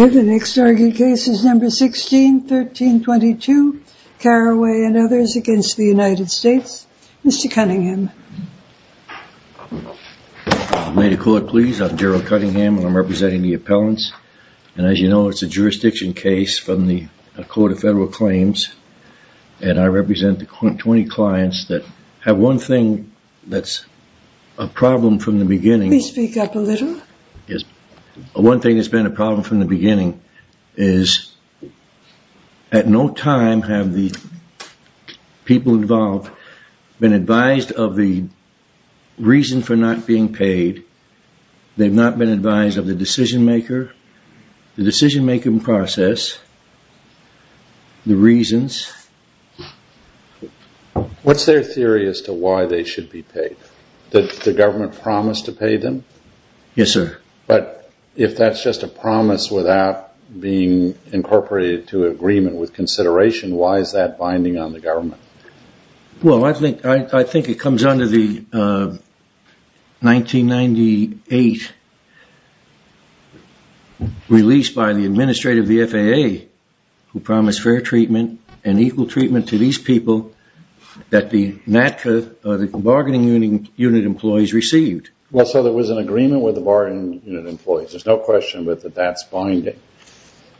The next argued case is number 16, 1322, Carraway and others against the United States. Mr. Cunningham. May the court please, I'm Gerald Cunningham and I'm representing the appellants and as you know it's a jurisdiction case from the Court of Federal Claims and I represent the 20 clients that have one thing that's a problem from the beginning. Please speak up a little. One thing that's been a problem from the beginning is at no time have the people involved been advised of the reason for not being paid, they've not been advised of the decision maker, the decision making process, the reasons. What's their theory as to why they should be paid? Did the government promise to pay them? Yes, sir. But if that's just a promise without being incorporated to agreement with consideration, why is that binding on the government? Well, I think it comes under the 1998 release by the administrator of the FAA who promised fair treatment and equal treatment to these people that the bargaining unit employees received. Well, so there was an agreement with the bargaining unit employees. There's no question that that's binding.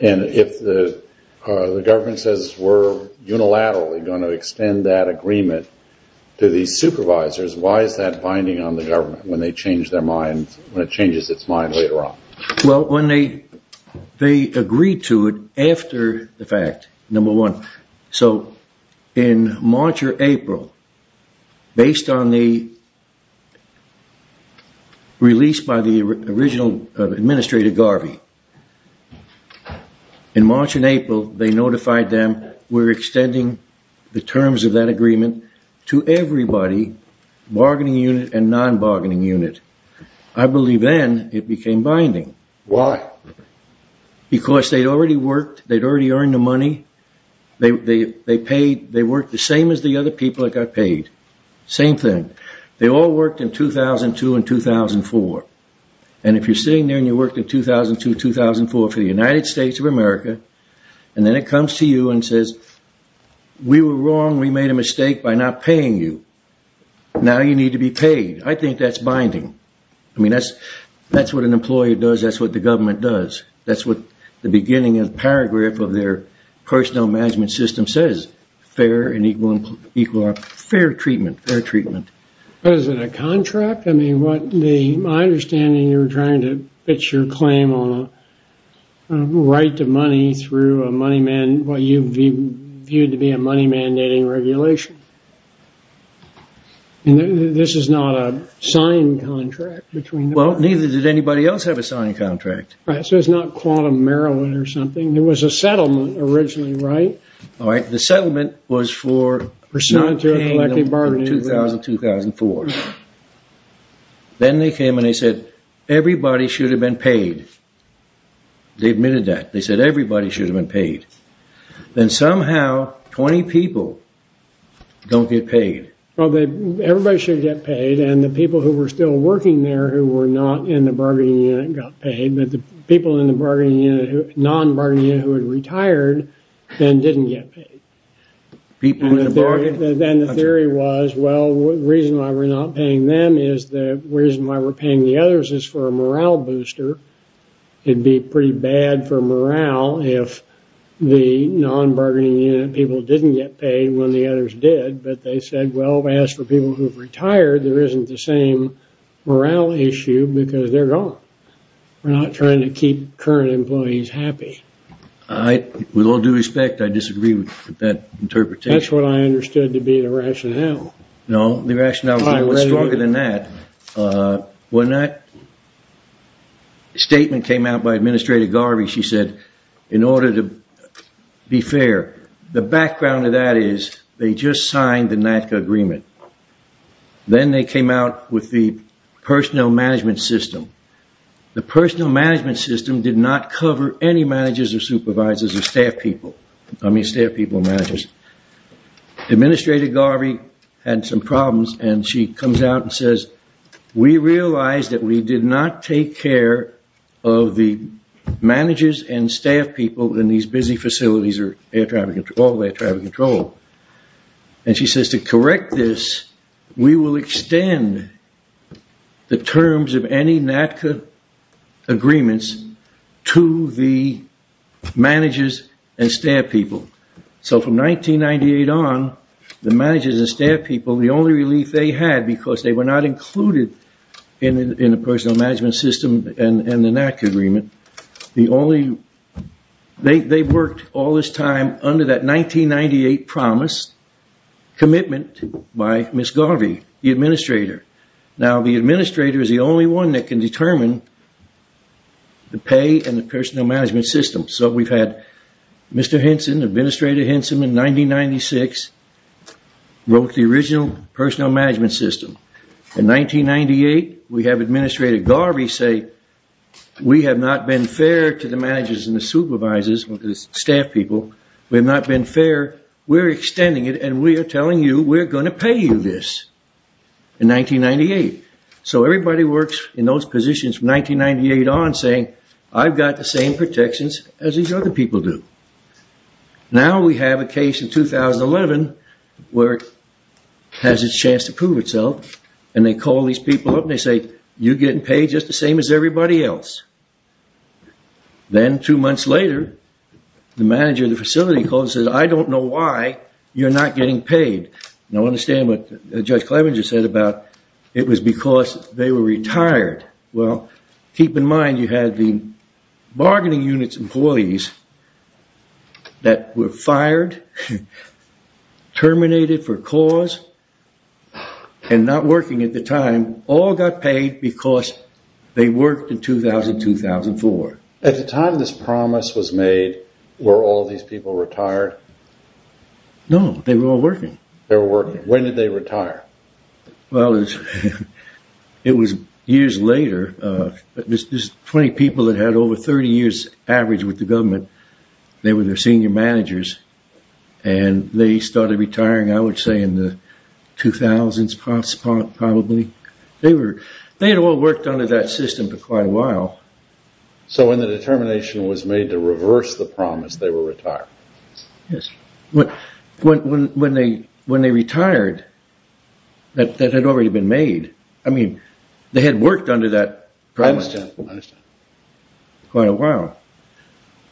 And if the government says we're unilaterally going to extend that agreement to these supervisors, why is that binding on the government when it changes its mind later on? Well, when they agreed to it after the fact, number one, so in March or April, based on the release by the original administrator Garvey, in March and April, they notified them we're extending the terms of that agreement to everybody, bargaining unit and non-bargaining unit. I believe then it became binding. Why? Because they'd already worked, they'd already earned the money, they worked the same as the other people that got paid. Same thing. They all worked in 2002 and 2004. And if you're sitting there and you worked in 2002, 2004 for the United States of America, and then it comes to you and says, we were wrong, we made a mistake by not paying you. Now you need to be paid. I think that's binding. I mean, that's what an employee does. That's what the government does. That's what the beginning of the paragraph of their personnel management system says, fair and equal, equal, fair treatment, fair treatment. Was it a contract? I mean, what the, my understanding, you're trying to pitch your claim on right to money through a money man, what you viewed to be a money mandating regulation. And this is not a signed contract between. Well, neither did anybody else have a signed contract. Right, so it's not quantum Maryland or something. There was a settlement originally, right? All right. The settlement was for. For not paying them in 2000, 2004. Then they came and they said, everybody should have been paid. They admitted that. They said, everybody should have been paid. Then somehow 20 people don't get paid. Well, they, everybody should get paid. And the people who were still working there who were not in the bargaining unit got paid. But the people in the bargaining unit, non-bargaining unit who had retired, then didn't get paid. Then the theory was, well, the reason why we're not paying them is the reason why we're paying the others is for a morale booster. It'd be pretty bad for morale if the non-bargaining unit people didn't get paid when the others did. But they said, well, as for people who've retired, there isn't the same morale issue because they're gone. We're not trying to keep current employees happy. I, with all due respect, I disagree with that interpretation. That's what I understood to be the rationale. No, the rationale was stronger than that. When that statement came out by Administrator Garvey, she said, in order to be fair, the background of that is they just signed the NACA agreement. Then they came out with the personnel management system. The personnel management system did not cover any managers or supervisors or staff people. I mean staff people and managers. Administrator Garvey had some problems and she comes out and says, we realize that we did not take care of the managers and staff people in these busy facilities or all the air traffic control. And she says, to correct this, we will extend the terms of any NACA agreements to the managers and staff people. So from 1998 on, the managers and staff people, the only relief they had, because they were not included in the personnel management system and the NACA agreement, the only, they worked all this time under that 1998 promise, commitment by Ms. Garvey, the administrator. Now, the administrator is the only one that can determine the pay and the personnel management system. So we've had Mr. Henson, Administrator Henson in 1996, wrote the original personnel management system. In 1998, we have Administrator Garvey say, we have not been fair to the managers and the supervisors and the staff people. We have not been fair. We're extending it and we are telling you we're going to pay you this. In 1998. So everybody works in those positions from 1998 on saying, I've got the same protections as these other people do. Now we have a case in 2011 where it has a chance to prove itself. And they call these people up and they say, you're getting paid just the same as everybody else. Then two months later, the manager of the facility calls and says, I don't know why you're not getting paid. Now, understand what Judge Clevenger said about it was because they were retired. Well, keep in mind, you had the bargaining units employees that were fired, terminated for cause and not working at the time, all got paid because they worked in 2000, 2004. At the time this promise was made, were all these people retired? No, they were all working. They were working. When did they retire? Well, it was years later. There's 20 people that had over 30 years average with the government. They were their senior managers and they started retiring, I would say, in the 2000s probably. They had all worked under that system for quite a while. So when the determination was made to reverse the promise, they were retired? Yes. When they retired, that had already been made. I mean, they had worked under that promise for quite a while.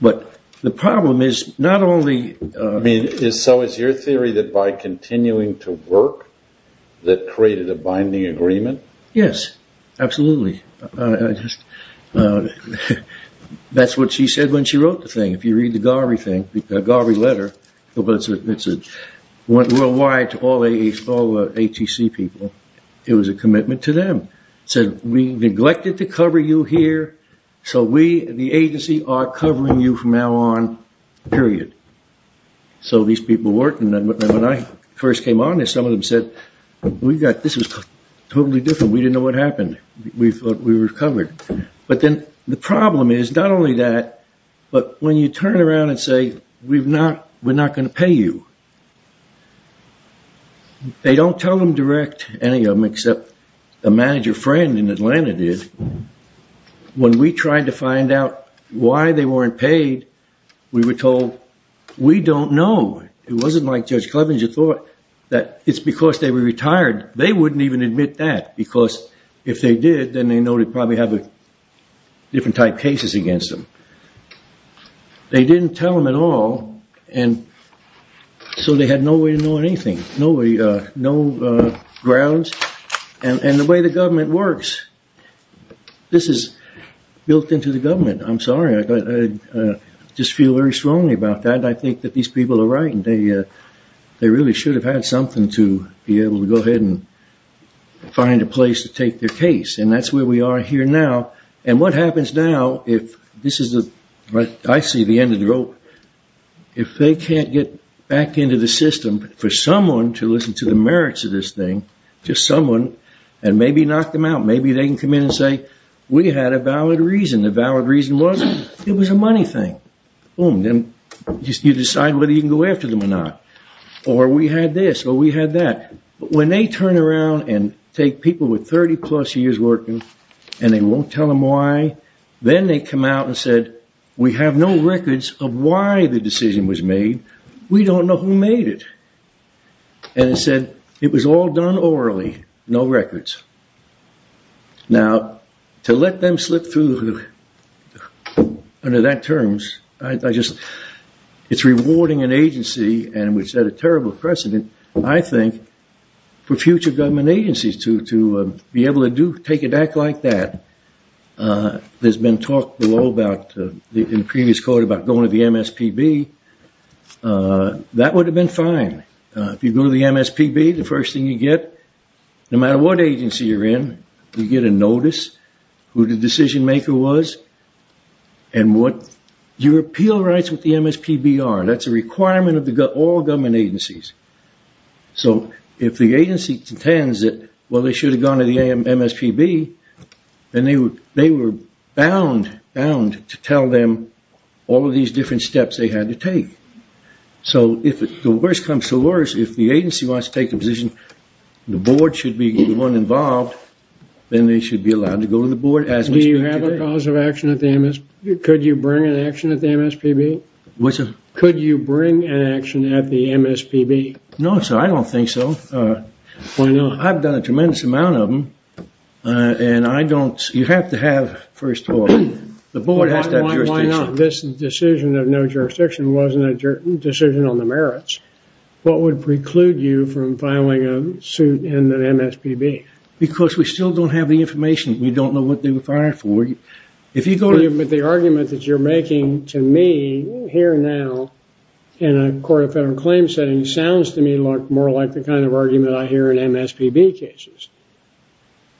But the problem is not only- I mean, so is your theory that by continuing to work, that created a binding agreement? Yes, absolutely. That's what she said when she wrote the thing. If you read the Garvey letter, it went worldwide to all the ATC people. It was a commitment to them. It said, we neglected to cover you here. So we, the agency, are covering you from now on, period. So these people worked. And then when I first came on, some of them said, we've got- this is totally different. We didn't know what happened. We thought we were covered. But then the problem is not only that, but when you turn around and say, we're not going to pay you. They don't tell them direct, any of them, except a manager friend in Atlanta did. When we tried to find out why they weren't paid, we were told, we don't know. It wasn't like Judge Clevenger thought that it's because they were retired. They wouldn't even admit that because if they did, then they know they'd probably have different type cases against them. They didn't tell them at all. And so they had no way to know anything, no grounds. And the way the government works, this is built into the government. I'm sorry. I just feel very strongly about that. I think that these people are right. And they really should have had something to be able to go ahead and find a place to take their case. And that's where we are here now. And what happens now, if this is the- I see the end of the rope. If they can't get back into the system for someone to listen to the merits of this thing, just someone, and maybe knock them out. Maybe they can come in and say, we had a valid reason. The valid reason was, it was a money thing. Boom. Then you decide whether you can go after them or not. Or we had this, or we had that. But when they turn around and take people with 30 plus years working, and they won't tell them why, then they come out and said, we have no records of why the decision was made. We don't know who made it. And it said, it was all done orally. No records. Now, to let them slip through under that terms, I just- it's rewarding an agency, and we set a terrible precedent, I think, for future government agencies to be able to take an act like that. There's been talk below about, in previous court, about going to the MSPB. That would have been fine. If you go to the MSPB, the first thing you get, no matter what agency you're in, you get a notice, who the decision maker was, and what your appeal rights with the MSPB are. That's a requirement of all government agencies. So if the agency contends that, well, they should have gone to the MSPB, then they were bound, bound to tell them all of these different steps they had to take. So if the worst comes to worst, if the agency wants to take a position, the board should be the one involved, then they should be allowed to go to the board as- Do you have a cause of action at the MSPB? Could you bring an action at the MSPB? Could you bring an action at the MSPB? No, sir, I don't think so. Why not? I've done a tremendous amount of them, and I don't- you have to have, first of all, the board has to have jurisdiction. This decision of no jurisdiction wasn't a decision on the merits. What would preclude you from filing a suit in the MSPB? Because we still don't have the information. We don't know what they were fired for. If you go to- The argument that you're making to me here now in a court of federal claim setting sounds to me more like the kind of argument I hear in MSPB cases,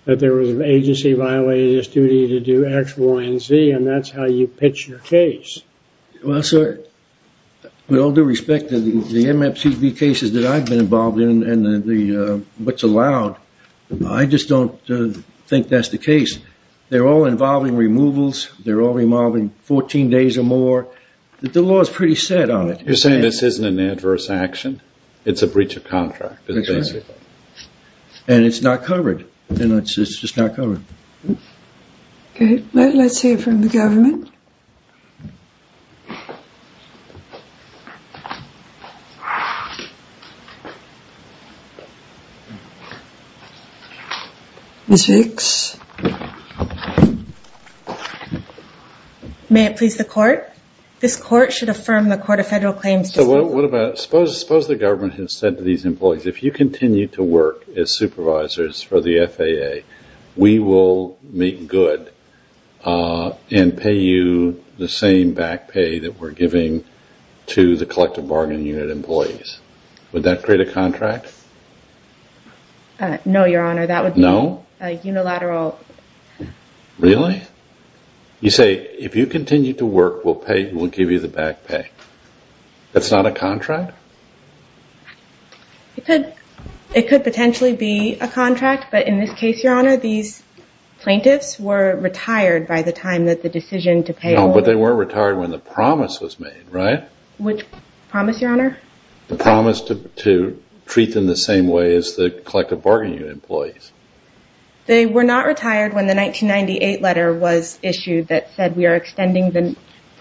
that there was an agency violated its duty to do X, Y, and Z, and that's how you pitch your case. Well, sir, with all due respect to the MSPB cases that I've been involved in and what's allowed, I just don't think that's the case. They're all involving removals. They're all involving 14 days or more. The law is pretty set on it. You're saying this isn't an adverse action? It's a breach of contract. And it's not covered. And it's just not covered. Okay. Let's hear from the government. Ms. Riggs? May it please the court? This court should affirm the court of federal claims- So what about- Suppose the government has said to these employees, if you continue to work as supervisors for the FAA, we will make good and pay you the same back pay that we're giving to the Collective Bargain Unit employees. Would that create a contract? No, Your Honor, that would be a unilateral- Really? You say, if you continue to work, we'll pay, we'll give you the back pay. That's not a contract? It could. It could potentially be a contract. But in this case, Your Honor, these plaintiffs were retired by the time that the decision to pay- But they weren't retired when the promise was made, right? Which promise, Your Honor? The promise to treat them the same way as the Collective Bargain Unit employees. They were not retired when the 1998 letter was issued that said we are extending the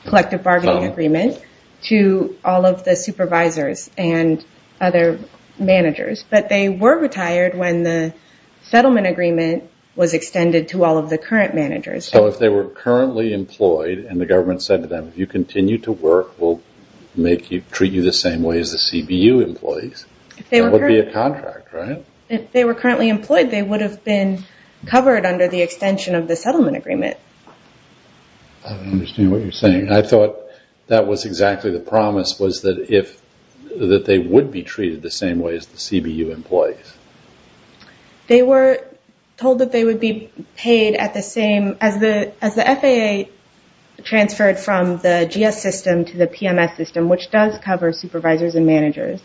Collective Bargaining Agreement to all of the supervisors and other managers. But they were retired when the settlement agreement was extended to all of the current managers. So if they were currently employed and the government said to them, if you continue to work, we'll treat you the same way as the CBU employees, that would be a contract, right? If they were currently employed, they would have been covered under the extension of the settlement agreement. I don't understand what you're saying. I thought that was exactly the promise, was that they would be treated the same way as the CBU employees. They were told that they would be paid at the same- As the FAA transferred from the GS system to the PMS system, which does cover supervisors and managers,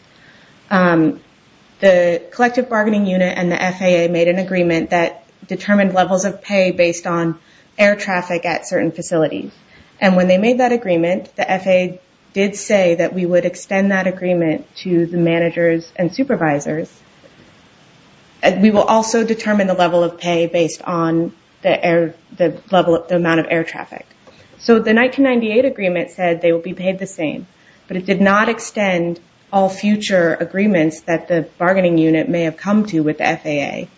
the Collective Bargaining Unit and the FAA made an agreement that determined levels of pay based on air traffic at certain facilities. And when they made that agreement, the FAA did say that we would extend that agreement to the managers and supervisors. We will also determine the level of pay based on the amount of air traffic. So the 1998 agreement said they will be paid the same, but it did not extend all future agreements that the bargaining unit may have come to with the FAA.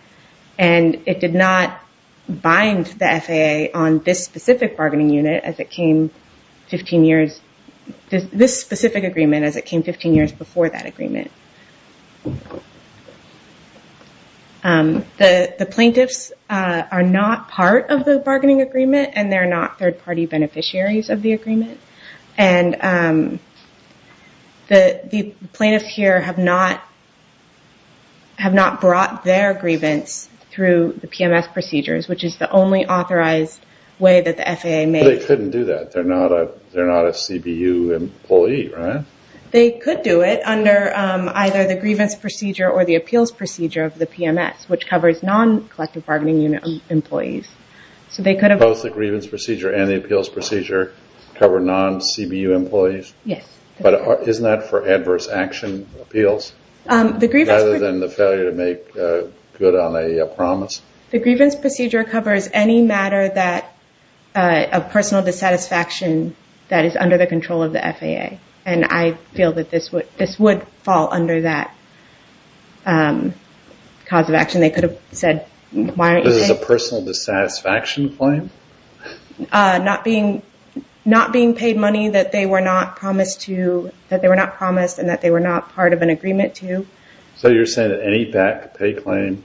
And it did not bind the FAA on this specific bargaining unit as it came 15 years... This specific agreement as it came 15 years before that agreement. The plaintiffs are not part of the bargaining agreement and they're not third-party beneficiaries of the agreement. And the plaintiffs here have not brought their grievance through the PMS procedures, which is the only authorized way that the FAA may... They couldn't do that. They're not a CBU employee, right? They could do it under either the grievance procedure or the appeals procedure of the PMS, which covers non-Collective Bargaining Unit employees. So they could have... Both the grievance procedure and the appeals procedure cover non-CBU employees? Yes. But isn't that for adverse action appeals? The grievance... Rather than the failure to make good on a promise? The grievance procedure covers any matter that... Of personal dissatisfaction that is under the control of the FAA. And I feel that this would fall under that cause of action. They could have said, why aren't you saying? This is a personal dissatisfaction claim? Not being paid money that they were not promised to... That they were not promised and that they were not part of an agreement to. So you're saying that any PAC pay claim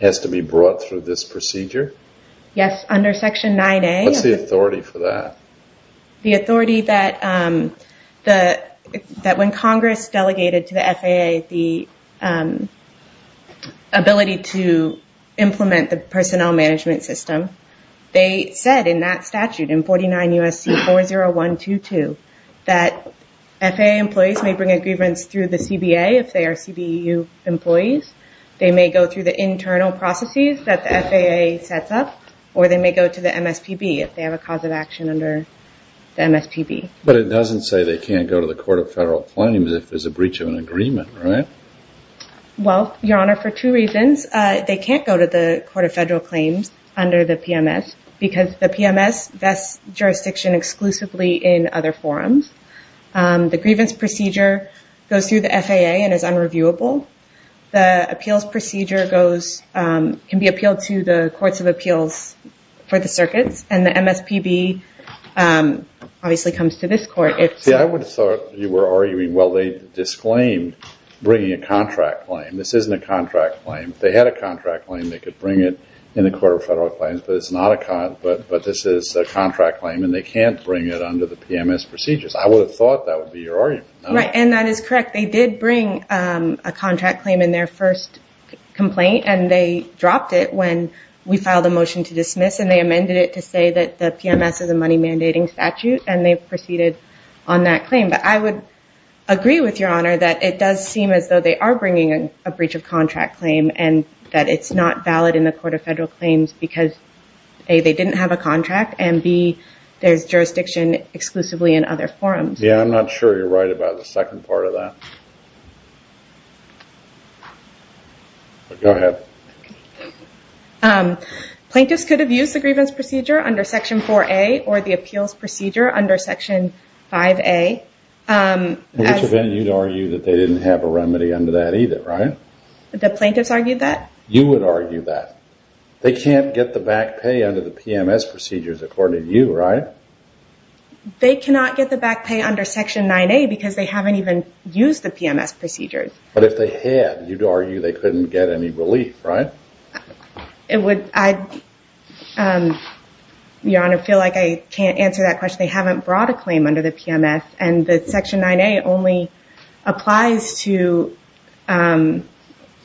has to be brought through this procedure? Yes, under Section 9A. What's the authority for that? The authority that when Congress delegated to the FAA the ability to implement the personnel management system, they said in that statute in 49 U.S.C. 40122 that FAA employees may bring a grievance through the CBA if they are CBEU employees. They may go through the internal processes that the FAA sets up or they may go to the MSPB if they have a cause of action under the MSPB. But it doesn't say they can't go to the Court of Federal Claims if there's a breach of an agreement, right? Well, Your Honor, for two reasons. They can't go to the Court of Federal Claims under the PMS because the PMS vests jurisdiction exclusively in other forums. The grievance procedure goes through the FAA and is unreviewable. The appeals procedure can be appealed to the Courts of Appeals for the circuits and the MSPB obviously comes to this Court. See, I would have thought you were arguing, well, they disclaimed bringing a contract claim. This isn't a contract claim. If they had a contract claim, they could bring it in the Court of Federal Claims, but this is a contract claim and they can't bring it under the PMS procedures. I would have thought that would be your argument. Right, and that is correct. They did bring a contract claim in their first complaint and they dropped it when we filed a motion to dismiss and they amended it to say that the PMS is a money mandating statute and they've proceeded on that claim. But I would agree with Your Honor that it does seem as though they are bringing a breach of contract claim and that it's not valid in the Court of Federal Claims because A, they didn't have a contract and B, there's jurisdiction exclusively in other forums. Yeah, I'm not sure you're right about the second part of that. Go ahead. Plaintiffs could have used the grievance procedure under Section 4A or the appeals procedure under Section 5A. Which would mean you'd argue that they didn't have a remedy under that either, right? The plaintiffs argued that? You would argue that. They can't get the back pay under the PMS procedures according to you, right? They cannot get the back pay under Section 9A because they haven't even used the PMS procedures. But if they had, you'd argue they couldn't get any relief, right? It would, Your Honor, I feel like I can't answer that question. They haven't brought a claim under the PMS and the Section 9A only applies to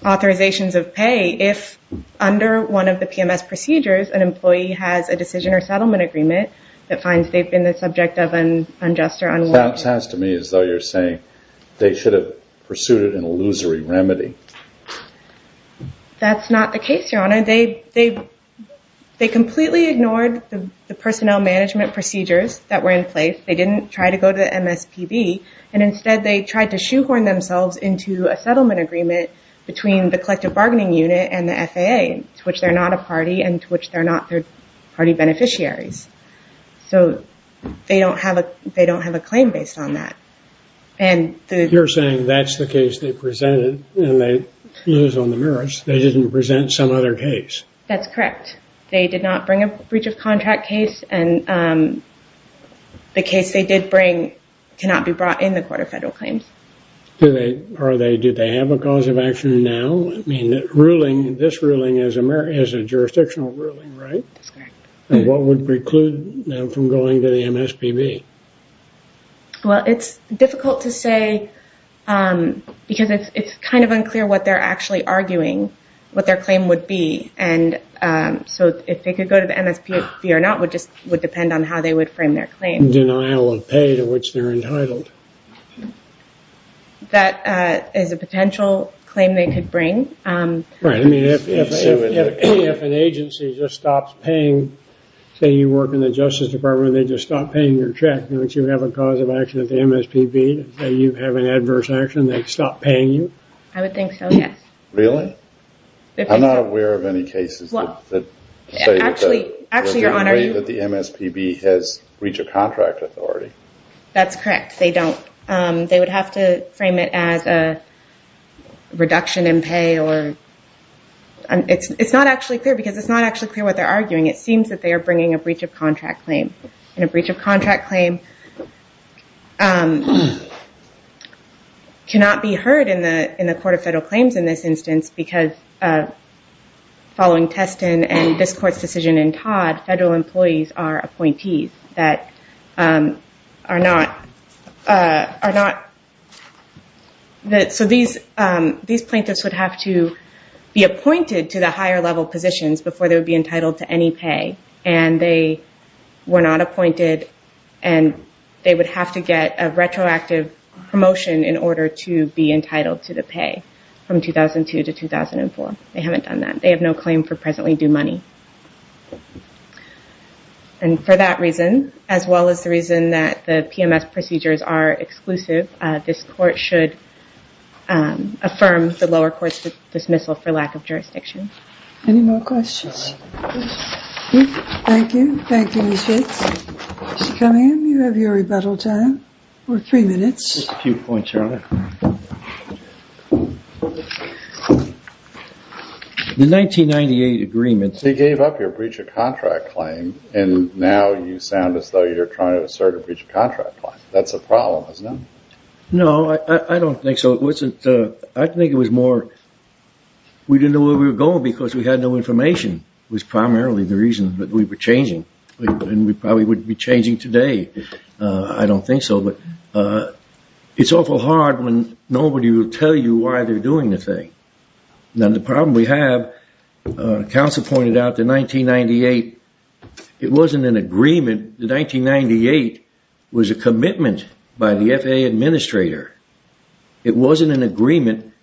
authorizations of pay if under one of the PMS procedures an employee has a decision or settlement agreement that finds they've been the subject of an unjust or unwarranted... It sounds to me as though you're saying they should have pursued an illusory remedy. That's not the case, Your Honor. They completely ignored the personnel management procedures that were in place. They didn't try to go to the MSPB. And instead, they tried to shoehorn themselves into a settlement agreement between the Collective Bargaining Unit and the FAA, to which they're not a party and to which they're not third party beneficiaries. So they don't have a claim based on that. You're saying that's the case they presented and they lose on the merits. They didn't present some other case. That's correct. They did not bring a breach of contract case and the case they did bring cannot be brought in the Court of Federal Claims. Did they have a cause of action now? This ruling is a jurisdictional ruling, right? That's correct. And what would preclude them from going to the MSPB? Well, it's difficult to say because it's kind of unclear what they're actually arguing, what their claim would be. And so if they could go to the MSPB or not, would just would depend on how they would frame their claim. Denial of pay to which they're entitled. That is a potential claim they could bring. Right, I mean, if an agency just stops paying, say you work in the Justice Department, they just stop paying your check. Don't you have a cause of action at the MSPB? Say you have an adverse action, they stop paying you? I would think so, yes. Really? I'm not aware of any cases that say that the MSPB has breach of contract authority. That's correct, they don't. They would have to frame it as a reduction in pay or... It's not actually clear because it's not actually clear what they're arguing. It seems that they are bringing a breach of contract claim. And a breach of contract claim cannot be heard in the Court of Federal Claims in this instance Federal employees are appointees that are not... These plaintiffs would have to be appointed to the higher level positions before they would be entitled to any pay. And they were not appointed and they would have to get a retroactive promotion in order to be entitled to the pay from 2002 to 2004. They haven't done that. They have no claim for presently due money. And for that reason, as well as the reason that the PMS procedures are exclusive, this court should affirm the lower court's dismissal for lack of jurisdiction. Any more questions? Thank you. Thank you, Ms. Hicks. Come in, you have your rebuttal time for three minutes. A few points, Your Honor. The 1998 agreement... Breach of contract claim. And now you sound as though you're trying to assert a breach of contract claim. That's a problem, isn't it? No, I don't think so. I think it was more... We didn't know where we were going because we had no information was primarily the reason that we were changing. And we probably wouldn't be changing today. I don't think so. But it's awful hard when nobody will tell you why they're doing the thing. Now, the problem we have... Counsel pointed out the 1998, it wasn't an agreement. The 1998 was a commitment by the FAA administrator. It wasn't an agreement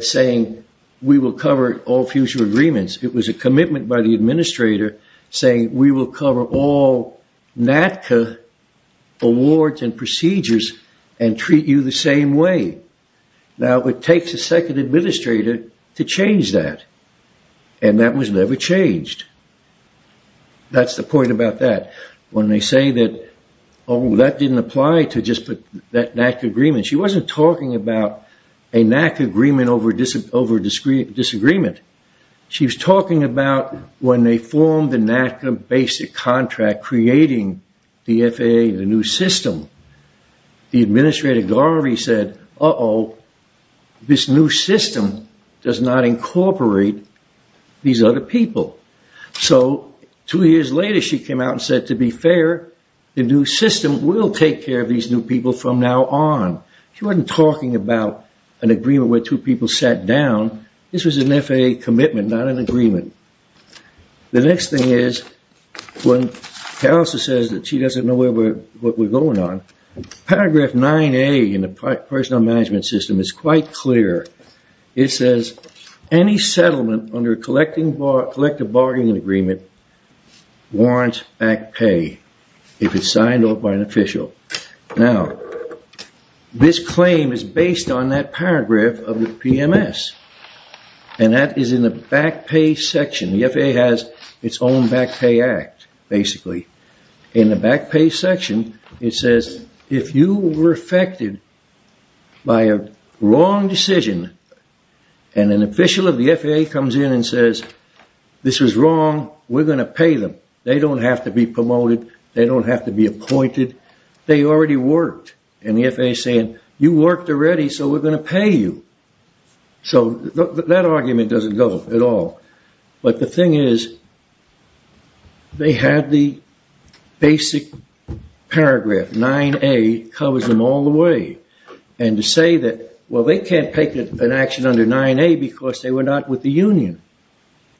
saying we will cover all future agreements. It was a commitment by the administrator saying we will cover all NACA awards and procedures and treat you the same way. Now, it takes a second administrator to change that. And that was never changed. That's the point about that. When they say that, oh, that didn't apply to just that NACA agreement. She wasn't talking about a NACA agreement over disagreement. She was talking about when they formed the NACA basic contract creating the FAA, the new system. The administrator, Garvey, said, uh-oh, this new system does not incorporate these other people. So two years later, she came out and said, to be fair, the new system will take care of these new people from now on. She wasn't talking about an agreement where two people sat down. This was an FAA commitment, not an agreement. The next thing is when she says she doesn't know what we're going on, paragraph 9A in the personal management system is quite clear. It says any settlement under a collective bargaining agreement warrants back pay if it's signed off by an official. Now, this claim is based on that paragraph of the PMS. And that is in the back pay section. The FAA has its own back pay act, basically. In the back pay section, it says, if you were affected by a wrong decision and an official of the FAA comes in and says, this was wrong, we're going to pay them. They don't have to be promoted. They don't have to be appointed. They already worked. And the FAA is saying, you worked already, so we're going to pay you. So that argument doesn't go at all. But the thing is, they had the basic paragraph 9A covers them all the way. And to say that, well, they can't take an action under 9A because they were not with the union.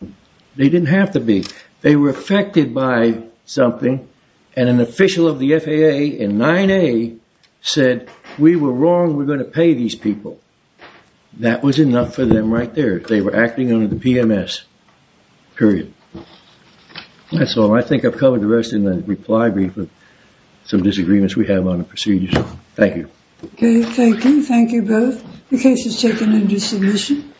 They didn't have to be. They were affected by something and an official of the FAA in 9A said, we were wrong, we're going to pay these people. That was enough for them right there. They were acting under the PMS, period. That's all. I think I've covered the rest in the reply brief of some disagreements we have on the procedures. Thank you. Okay, thank you. Thank you both. The case is taken under submission.